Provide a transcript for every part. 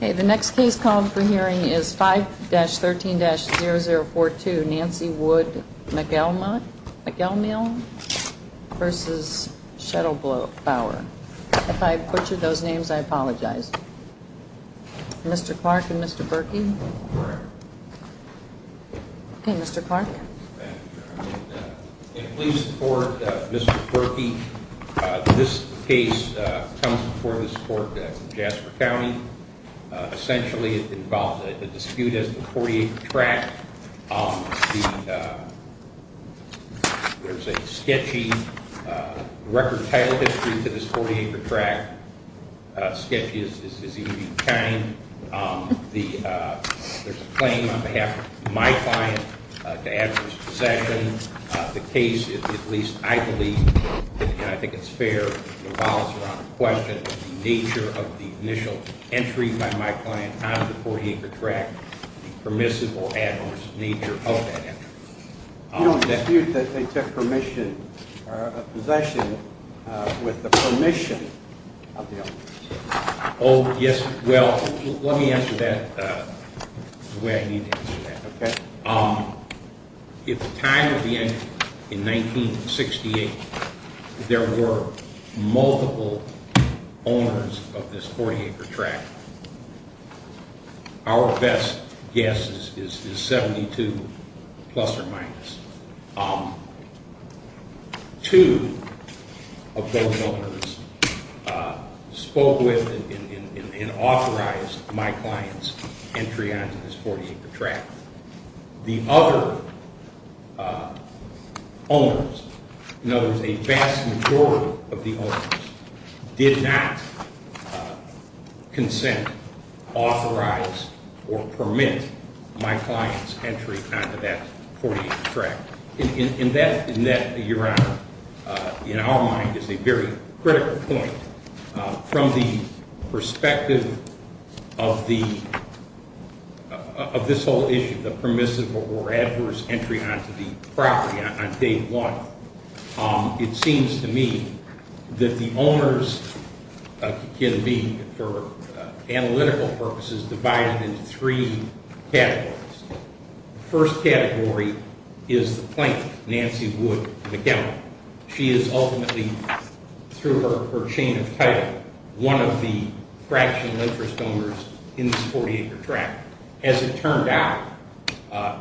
The next case called for hearing is 5-13-0042, Nancy Wood McElmeel v. Shedelbower. If I butchered those names, I apologize. Mr. Clark and Mr. Berkey. Okay, Mr. Clark. And please support Mr. Berkey. This case comes before this court in Jasper County. Essentially, it involves a dispute as to the 40-acre tract. There's a sketchy record title history to this 40-acre tract. Sketchy as you can be kind. There's a claim on behalf of my client to adverse possession. The case is, at least I believe, and I think it's fair to allow us to answer the question, the nature of the initial entry by my client on the 40-acre tract, the permissive or adverse nature of that entry. You don't dispute that they took possession with the permission of the owners. Oh, yes, well, let me answer that the way I need to answer that. At the time of the entry, in 1968, there were multiple owners of this 40-acre tract. Our best guess is 72 plus or minus. Two of those owners spoke with and authorized my client's entry onto this 40-acre tract. The other owners, in other words, a vast majority of the owners did not consent, authorize, or permit my client's entry onto that 40-acre tract. In that, your honor, in our mind is a very critical point. From the perspective of this whole issue, the permissive or adverse entry onto the property on day one, it seems to me that the owners can be, for analytical purposes, divided into three categories. The first category is the plaintiff, Nancy Wood McGowan. She is ultimately, through her chain of title, one of the fractional interest owners in this 40-acre tract. As it turned out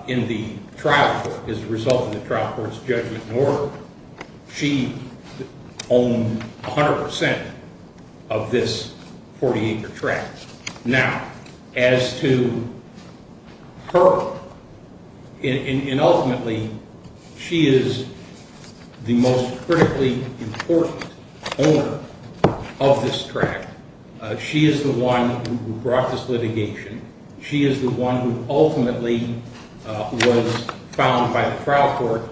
in the trial court, as a result of the trial court's judgment and order, she owned 100 percent of this 40-acre tract. Now, as to her, and ultimately, she is the most critically important owner of this tract. She is the one who brought this litigation. She is the one who ultimately was found by the trial court,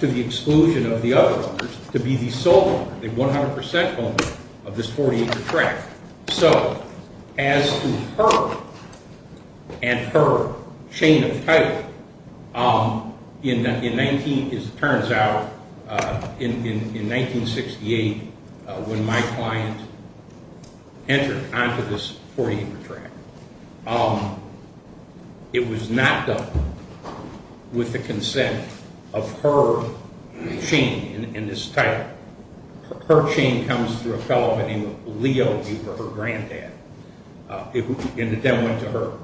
to the exclusion of the other owners, to be the sole owner, the 100 percent owner, of this 40-acre tract. So, as to her, and her chain of title, in 19, as it turns out, in 1968, when my client entered onto this 40-acre tract, it was not done with the consent of her chain in this title. Her chain comes through a fellow by the name of Leo Huber, her granddad, and it then went to her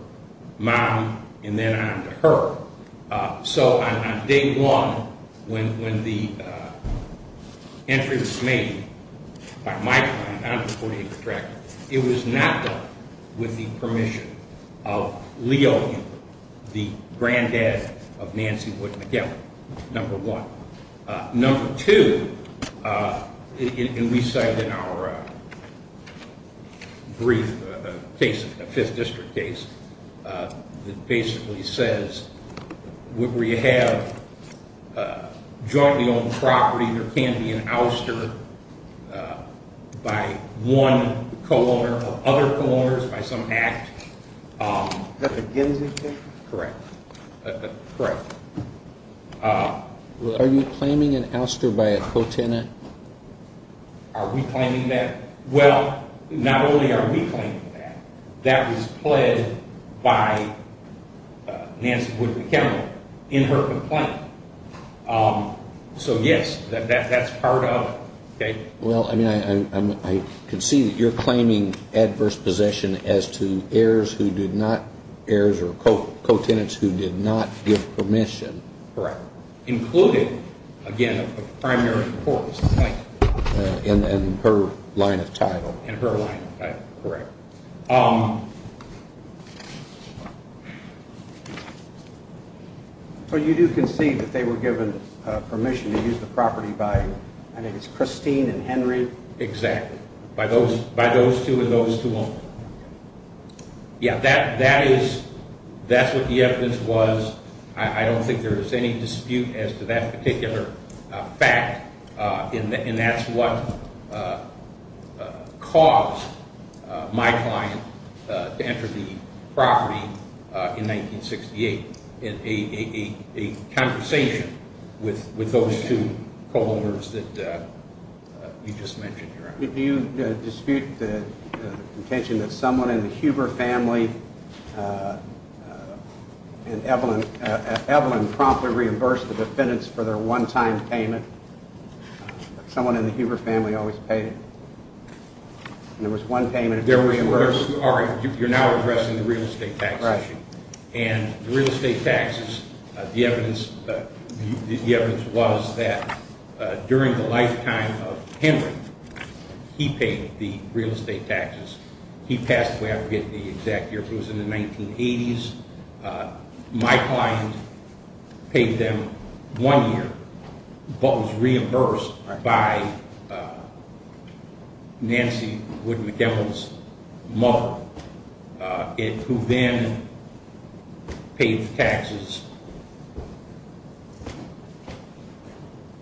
mom, and then on to her. So, on day one, when the entry was made by my client onto the 40-acre tract, it was not done with the permission of Leo Huber, the granddad of Nancy Wood McGowan, number one. Number two, and we cite in our brief case, a 5th District case, that basically says, would we have jointly-owned property, there can be an ouster by one co-owner or other co-owners by some act. Is that the Gensington? Correct. Are you claiming an ouster by a co-tenant? Are we claiming that? Well, not only are we claiming that, that was pled by Nancy Wood McGowan in her complaint. So, yes, that's part of it. Okay. Well, I mean, I can see that you're claiming adverse possession as to heirs who did not, heirs or co-tenants who did not give permission. Correct. Included, again, a primary cause. Right. In her line of title. In her line of title. Correct. So you do concede that they were given permission to use the property by, I think it's Christine and Henry? Exactly. By those two and those two only. Yeah, that is, that's what the evidence was. I don't think there is any dispute as to that particular fact, and that's what caused my client to enter the property in 1968, in a conversation with those two co-owners that you just mentioned. Do you dispute the contention that someone in the Huber family and Evelyn, Evelyn promptly reimbursed the defendants for their one-time payment? Someone in the Huber family always paid it. And there was one payment that was reimbursed. You're now addressing the real estate taxes. Correct. And the real estate taxes, the evidence, the evidence was that during the lifetime of Henry, he paid the real estate taxes. He passed away, I forget the exact year, but it was in the 1980s. My client paid them one year, but was reimbursed by Nancy Wood MacDowell's mother, who then paid the taxes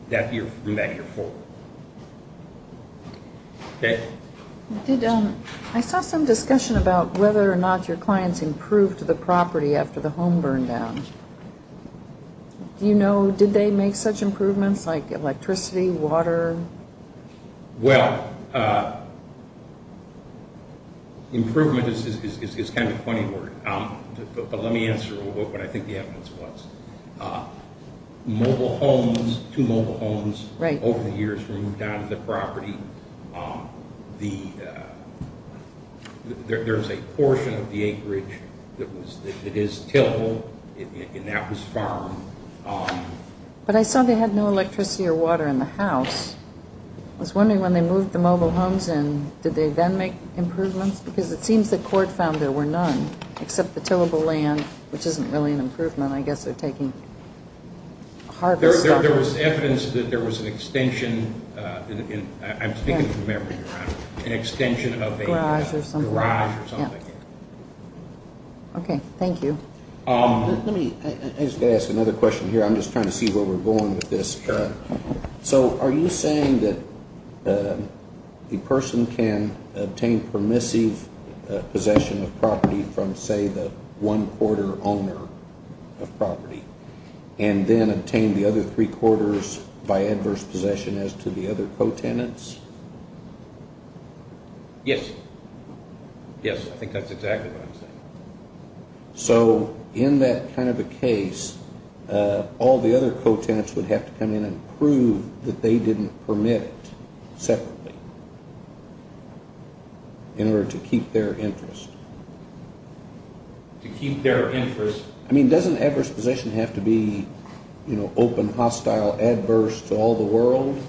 that year, from that year forward. I saw some discussion about whether or not your clients improved the property after the home burned down. Do you know, did they make such improvements, like electricity, water? Well, improvement is kind of a funny word, but let me answer what I think the evidence was. Mobile homes, two mobile homes over the years were moved out of the property. There's a portion of the acreage that is tillable, and that was farmed. But I saw they had no electricity or water in the house. I was wondering when they moved the mobile homes in, did they then make improvements? Because it seems the court found there were none, except the tillable land, which isn't really an improvement. I guess they're taking harvest. There was evidence that there was an extension. I'm speaking from memory, Your Honor. An extension of a garage or something. Okay, thank you. Let me ask another question here. I'm just trying to see where we're going with this. Sure. So are you saying that a person can obtain permissive possession of property from, say, the one-quarter owner of property, and then obtain the other three-quarters by adverse possession as to the other co-tenants? Yes. Yes, I think that's exactly what I'm saying. So in that kind of a case, all the other co-tenants would have to come in and prove that they didn't permit it separately in order to keep their interest. To keep their interest. I mean, doesn't adverse possession have to be open, hostile, adverse to all the world?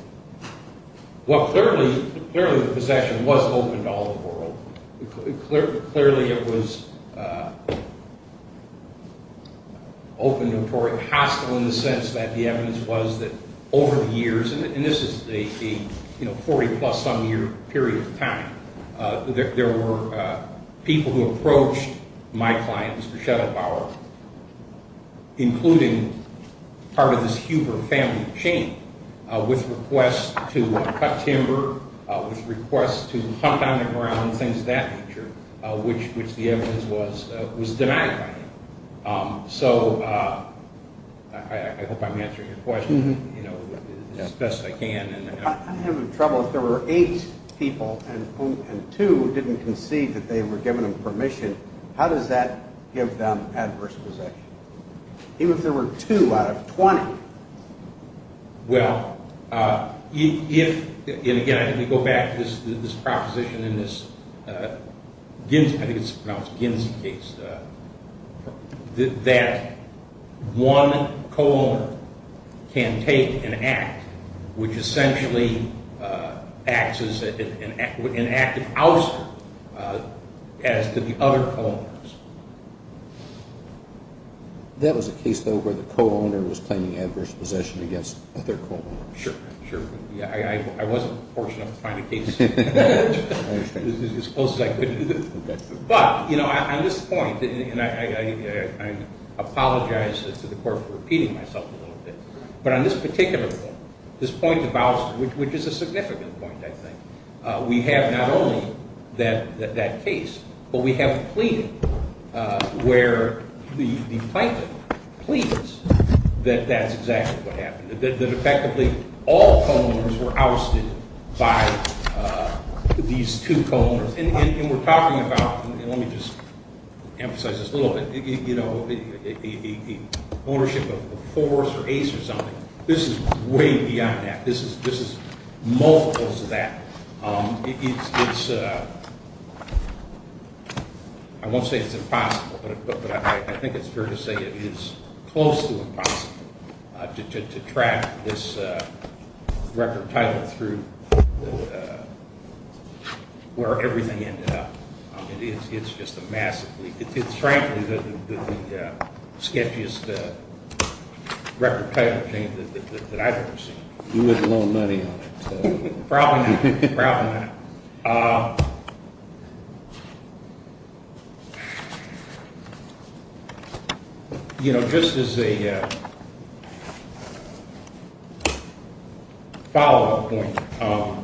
Well, clearly the possession was open to all the world. Clearly it was open, notorious, hostile in the sense that the evidence was that over the years, and this is a 40-plus-some-year period of time, there were people who approached my clients for shadow power, including part of this Huber family chain, with requests to cut timber, with requests to hunt on the ground, things of that nature, which the evidence was denying. So I hope I'm answering your question as best I can. I'm having trouble. If there were eight people and two didn't concede that they were given permission, how does that give them adverse possession? Even if there were two out of 20? Well, if, and again, I think we go back to this proposition in this Ginsey case, that one co-owner can take an act which essentially acts as an active ouster as to the other co-owners. That was a case, though, where the co-owner was claiming adverse possession against their co-owner. Sure, sure. I wasn't fortunate enough to find a case as close as I could. But, you know, on this point, and I apologize to the Court for repeating myself a little bit, but on this particular point, this point of ouster, which is a significant point, I think, we have not only that case, but we have a plea where the plaintiff pleads that that's exactly what happened, that effectively all co-owners were ousted by these two co-owners. And we're talking about, and let me just emphasize this a little bit, you know, ownership of a force or ace or something. This is way beyond that. This is multiples of that. It's, I won't say it's impossible, but I think it's fair to say it is close to impossible to track this record title through where everything ended up. It's just a massive leak. It's frankly the sketchiest record title change that I've ever seen. You wouldn't loan money on it. Probably not. Probably not. You know, just as a follow-up point,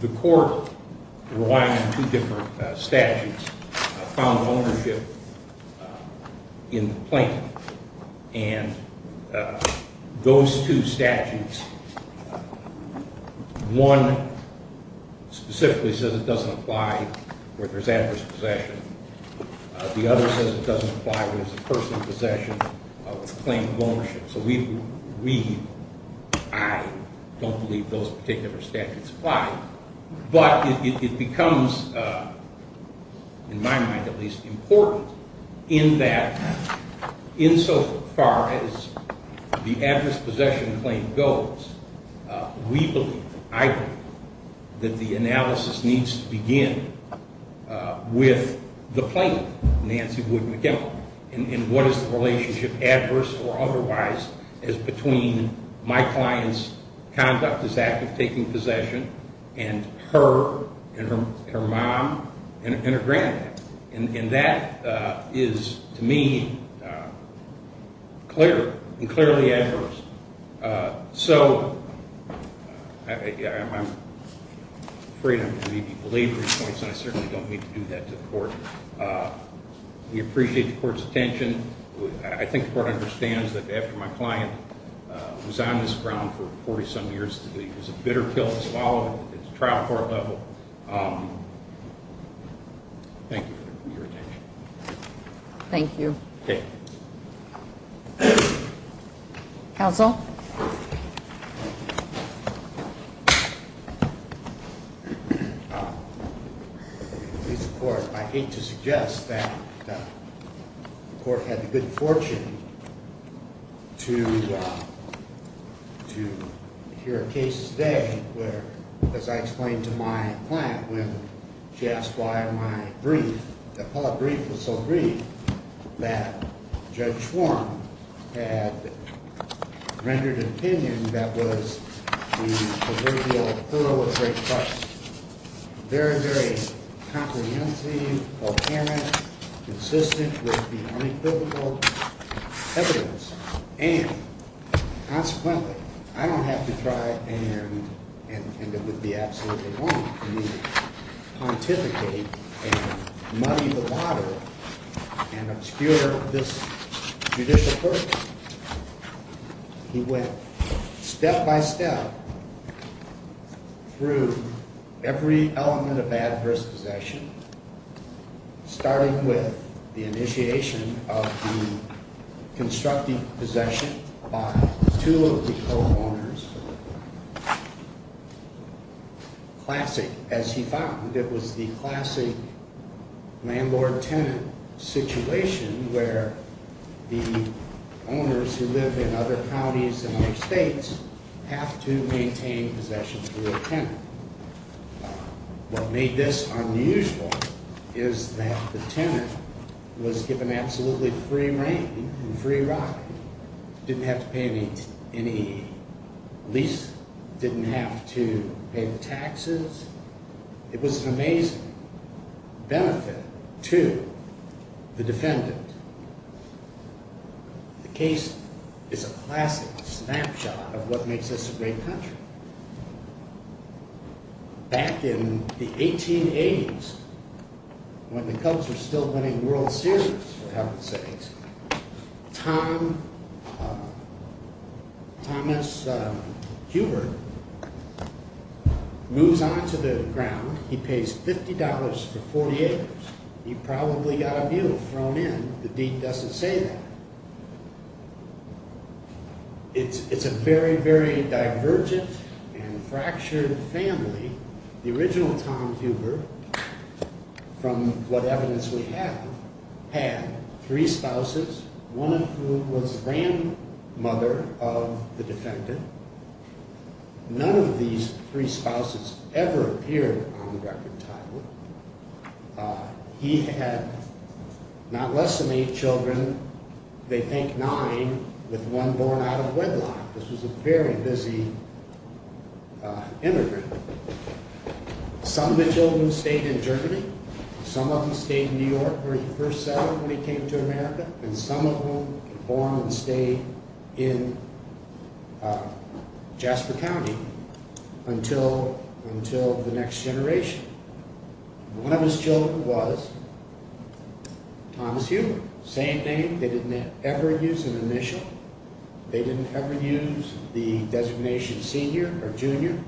the Court, relying on two different statutes, found ownership in the plaintiff. And those two statutes, one specifically says it doesn't apply where there's adverse possession. The other says it doesn't apply where there's a personal possession of the claim of ownership. So we, I don't believe those particular statutes apply. But it becomes, in my mind at least, important in that insofar as the adverse possession claim goes, we believe, I believe, that the analysis needs to begin with the plaintiff, Nancy Wood McKim. And what is the relationship, adverse or otherwise, is between my client's conduct as that of taking possession and her and her mom and her granddad. And that is, to me, clear and clearly adverse. So I'm afraid I'm going to give you belaboring points, and I certainly don't mean to do that to the Court. We appreciate the Court's attention. I think the Court understands that after my client was on this ground for 40-some years, it was a bitter pill to swallow at the trial court level. Thank you for your attention. Thank you. Okay. Counsel? Mr. Court, I hate to suggest that the Court had the good fortune to hear a case today where, as I explained to my client when she asked why my brief, the appellate brief was so brief, that Judge Schwarm had rendered an opinion that was the proverbial thorough of great fuss. Very, very comprehensive, volcanic, consistent with the unequivocal evidence. And, consequently, I don't have to try and, and it would be absolutely wrong for me to pontificate and muddy the water and obscure this judicial court. He went step by step through every element of adverse possession, starting with the initiation of the constructive possession by two of the co-owners. Classic, as he found, it was the classic landlord-tenant situation where the owners who lived in other counties and other states have to maintain possession through a tenant. What made this unusual is that the tenant was given absolutely free reign and free ride. Didn't have to pay any lease, didn't have to pay the taxes. It was an amazing benefit to the defendant. The case is a classic snapshot of what makes this a great country. Back in the 1880s, when the Cubs were still winning World Series, for heaven's sakes, Thomas Hubert moves onto the ground. He pays $50 for 48 hours. He probably got a view thrown in. The deed doesn't say that. It's a very, very divergent and fractured family. The original Tom Hubert, from what evidence we have, had three spouses. One of whom was the grandmother of the defendant. None of these three spouses ever appeared on record title. He had not less than eight children, they think nine, with one born out of wedlock. This was a very busy immigrant. Some of the children stayed in Germany. Some of them stayed in New York where he first settled when he came to America. And some of them were born and stayed in Jasper County until the next generation. One of his children was Thomas Hubert. Same name. They didn't ever use an initial. They didn't ever use the designation senior or junior.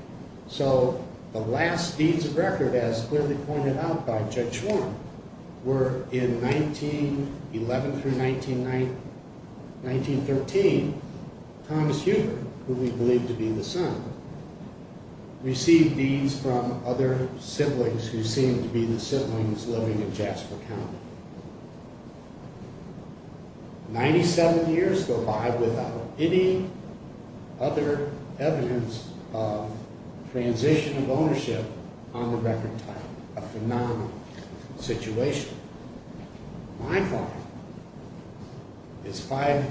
So the last deeds of record, as clearly pointed out by Judge Schwarm, were in 1911 through 1913. Thomas Hubert, who we believe to be the son, received deeds from other siblings who seemed to be the siblings living in Jasper County. Ninety-seven years go by without any other evidence of transition of ownership on the record title. A phenomenal situation. My father is five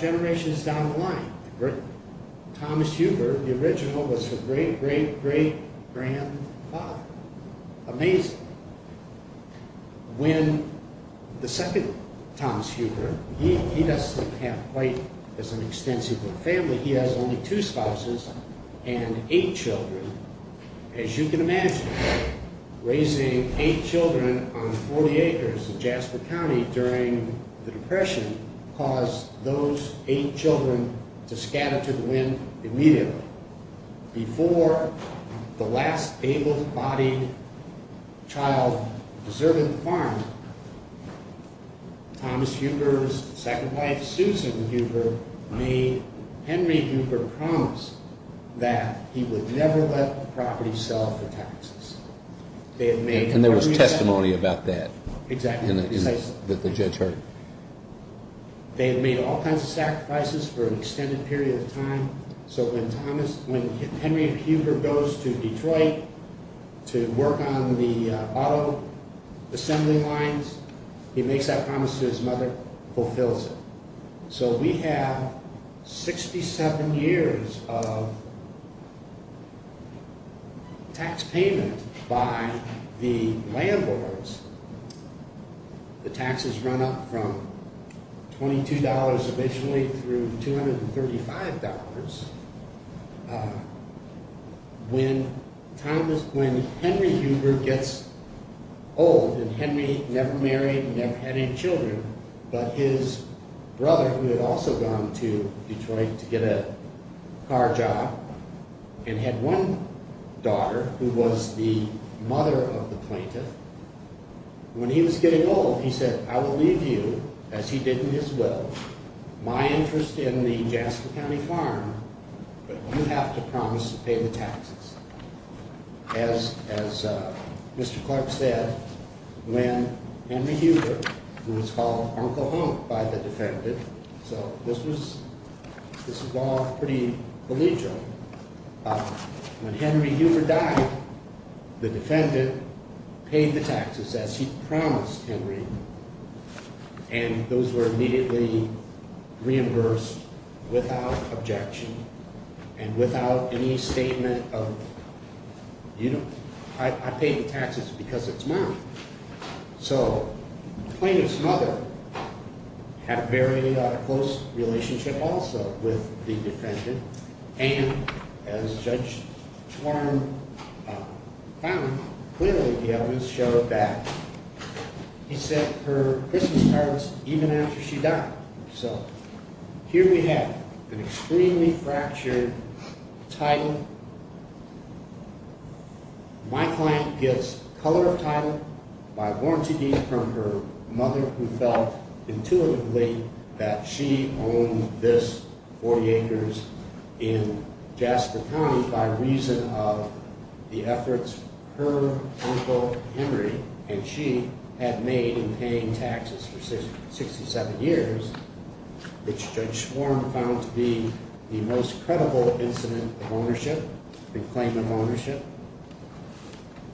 generations down the line. Thomas Hubert, the original, was a great, great, great grandfather. Amazing. When the second Thomas Hubert, he doesn't have quite as an extensive family. He has only two spouses and eight children. As you can imagine, raising eight children on 40 acres in Jasper County during the Depression caused those eight children to scatter to the wind immediately. Before the last able-bodied child deserved the farm, Thomas Hubert's second wife, Susan Hubert, made Henry Hubert promise that he would never let the property sell for taxes. And there was testimony about that. Exactly. That the judge heard. They made all kinds of sacrifices for an extended period of time. So when Henry Hubert goes to Detroit to work on the auto assembly lines, he makes that promise to his mother, fulfills it. So we have 67 years of tax payment by the landlords. The taxes run up from $22 eventually through $235. When Henry Hubert gets old, and Henry never married, never had any children, but his brother, who had also gone to Detroit to get a car job, and had one daughter who was the mother of the plaintiff, when he was getting old, he said, I will leave you, as he did in his will, my interest in the Jasper County farm, but you have to promise to pay the taxes. As Mr. Clark said, when Henry Hubert, who was called Uncle Honk by the defendant, so this was all pretty collegial. When Henry Hubert died, the defendant paid the taxes as he promised Henry, and those were immediately reimbursed without objection, and without any statement of, you know, I pay the taxes because it's mine. So the plaintiff's mother had a very close relationship also with the defendant, and as Judge Warren found, clearly the evidence showed that he sent her Christmas cards even after she died. So here we have an extremely fractured title. My client gets color of title by warranty deed from her mother, who felt intuitively that she owned this 40 acres in Jasper County by reason of the efforts her uncle Henry and she had made in paying taxes for 67 years, which Judge Warren found to be the most credible incident of ownership and claim of ownership.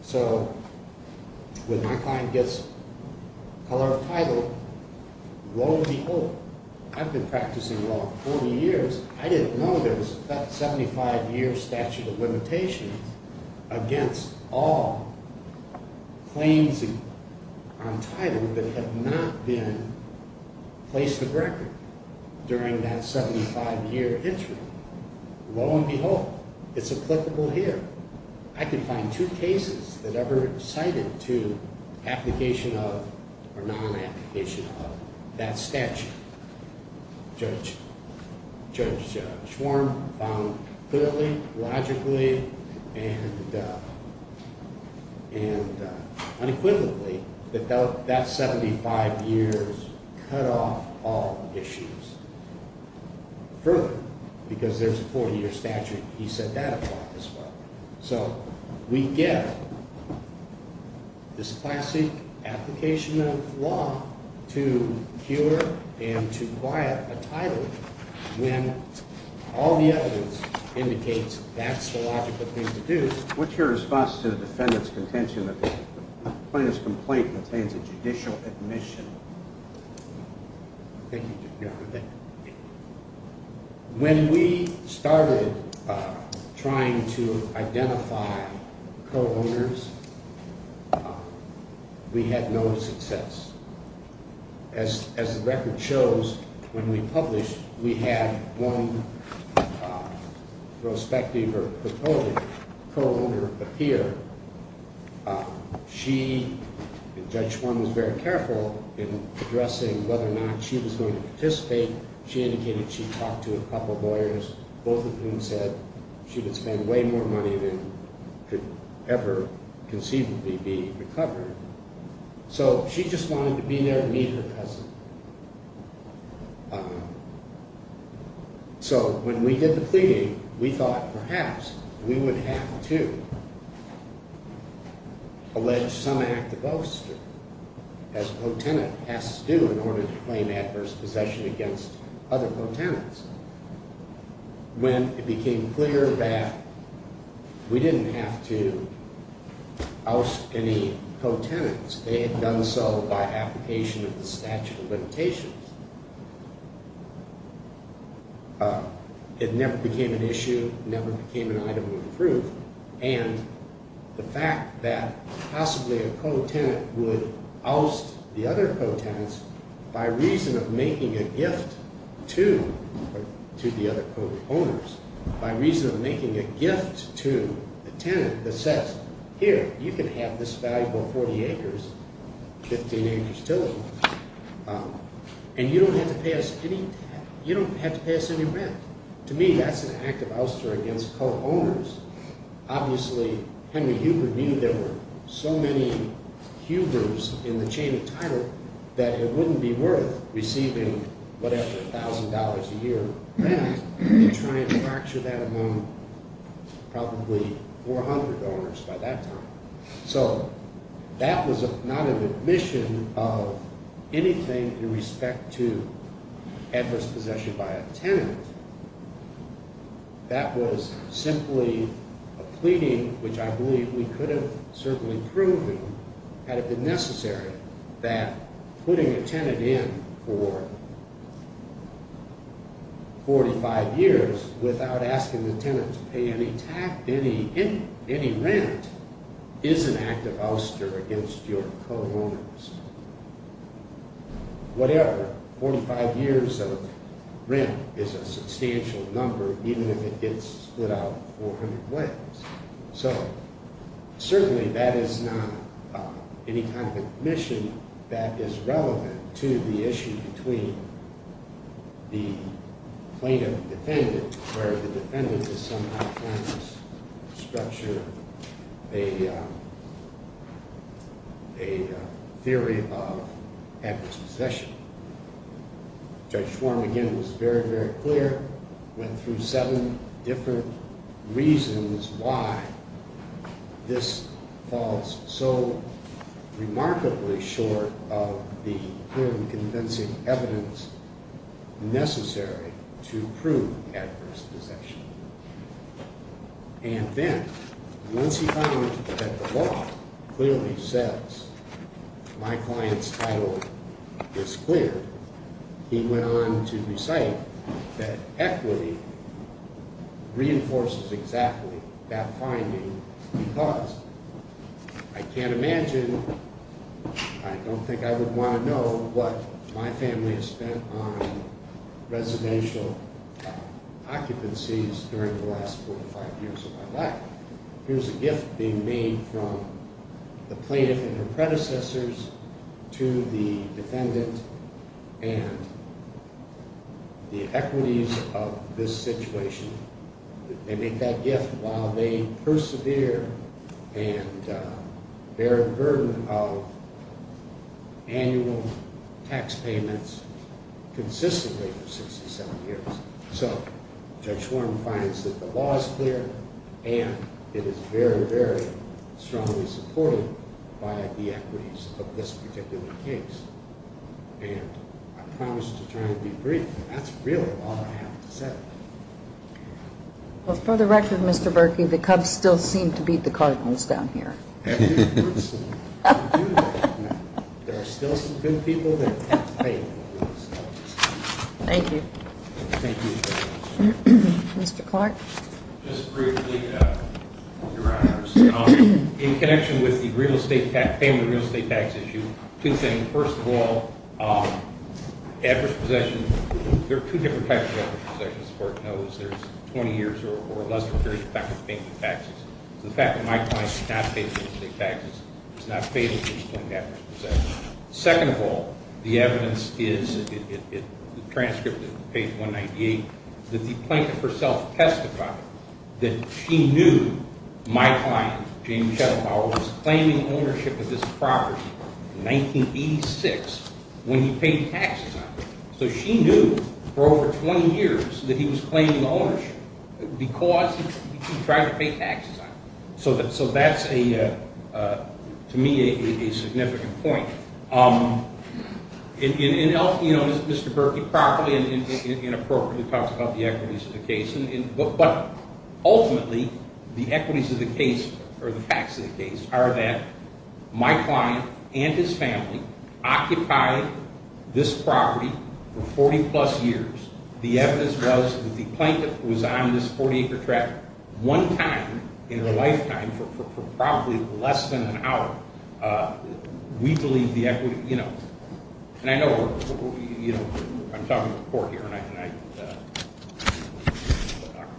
So when my client gets color of title, lo and behold, I've been practicing law for 40 years, I didn't know there was a 75-year statute of limitations against all claims on title that had not been placed to record during that 75-year history. Lo and behold, it's applicable here. I can find two cases that ever cited to application of or non-application of that statute. Judge Warren found clearly, logically, and unequivocally that that 75 years cut off all issues. Further, because there's a 40-year statute, he set that apart as well. So we get this classic application of law to cure and to quiet a title when all the evidence indicates that's the logical thing to do. What's your response to the defendant's contention that the plaintiff's complaint contains a judicial admission? When we started trying to identify co-owners, we had no success. As the record shows, when we published, we had one prospective or proposed co-owner appear. Judge Warren was very careful in addressing whether or not she was going to participate. She indicated she talked to a couple of lawyers, both of whom said she would spend way more money than could ever conceivably be recovered. So she just wanted to be there to meet her present. So when we did the pleading, we thought perhaps we would have to allege some act of ouster, as co-tenant has to do in order to claim adverse possession against other co-tenants. When it became clear that we didn't have to oust any co-tenants, they had done so by application of the statute of limitations, it never became an issue, never became an item of proof, and the fact that possibly a co-tenant would oust the other co-tenants by reason of making a gift to the other co-owners, by reason of making a gift to the tenant that says, here, you can have this valuable 40 acres, 15 acres total, and you don't have to pay us any rent. To me, that's an act of ouster against co-owners. Obviously, Henry Huber knew there were so many Hubers in the chain of title that it wouldn't be worth receiving whatever $1,000 a year rent to try and fracture that among probably 400 owners by that time. So that was not an admission of anything in respect to adverse possession by a tenant. That was simply a pleading, which I believe we could have certainly proven, had it been necessary, that putting a tenant in for 45 years without asking the tenant to pay any tax, any rent, is an act of ouster against your co-owners. Whatever, 45 years of rent is a substantial number, even if it gets split out 400 ways. So certainly that is not any kind of admission that is relevant to the issue between the plaintiff and defendant, where the defendant is somehow trying to structure a theory of adverse possession. Judge Schwarm, again, was very, very clear, went through seven different reasons why this falls so remarkably short of the clear and convincing evidence necessary to prove adverse possession. And then, once he found that the law clearly says my client's title is clear, he went on to recite that equity reinforces exactly that finding because I can't imagine, I don't think I would want to know what my family has spent on residential occupancies during the last 45 years of my life. Here's a gift being made from the plaintiff and her predecessors to the defendant and the equities of this situation. They make that gift while they persevere and bear the burden of annual tax payments consistently for 67 years. So Judge Schwarm finds that the law is clear and it is very, very strongly supported by the equities of this particular case. And I promise to try and be brief. That's really all I have to say. Well, for the record, Mr. Berkey, the Cubs still seem to beat the Cardinals down here. There are still some good people that have faith in the Cardinals. Thank you. Mr. Clark. Just briefly, Your Honors. In connection with the family real estate tax issue, two things. First of all, adverse possession, there are two different types of adverse possessions. As the Court knows, there's 20 years or less of a period of time of paying the taxes. So the fact that my client did not pay the real estate taxes is not fatal to explain adverse possession. Second of all, the evidence is in the transcript of page 198 that the plaintiff herself testified that she knew my client, James Schettenbauer, was claiming ownership of this property in 1986 when he paid taxes on it. So she knew for over 20 years that he was claiming ownership because he tried to pay taxes on it. So that's, to me, a significant point. Mr. Berkey properly and appropriately talks about the equities of the case. But ultimately, the equities of the case, or the facts of the case, are that my client and his family occupied this property for 40-plus years. The evidence was that the plaintiff was on this 40-acre tract one time in her lifetime for probably less than an hour. We believe the equity, you know, and I know we're, you know, I'm talking to the Court here and I,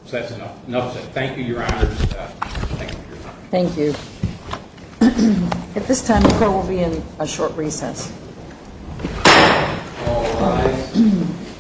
so that's enough. Enough said. Thank you, Your Honors. Thank you for your time. Thank you. At this time, the Court will be in a short recess. All rise.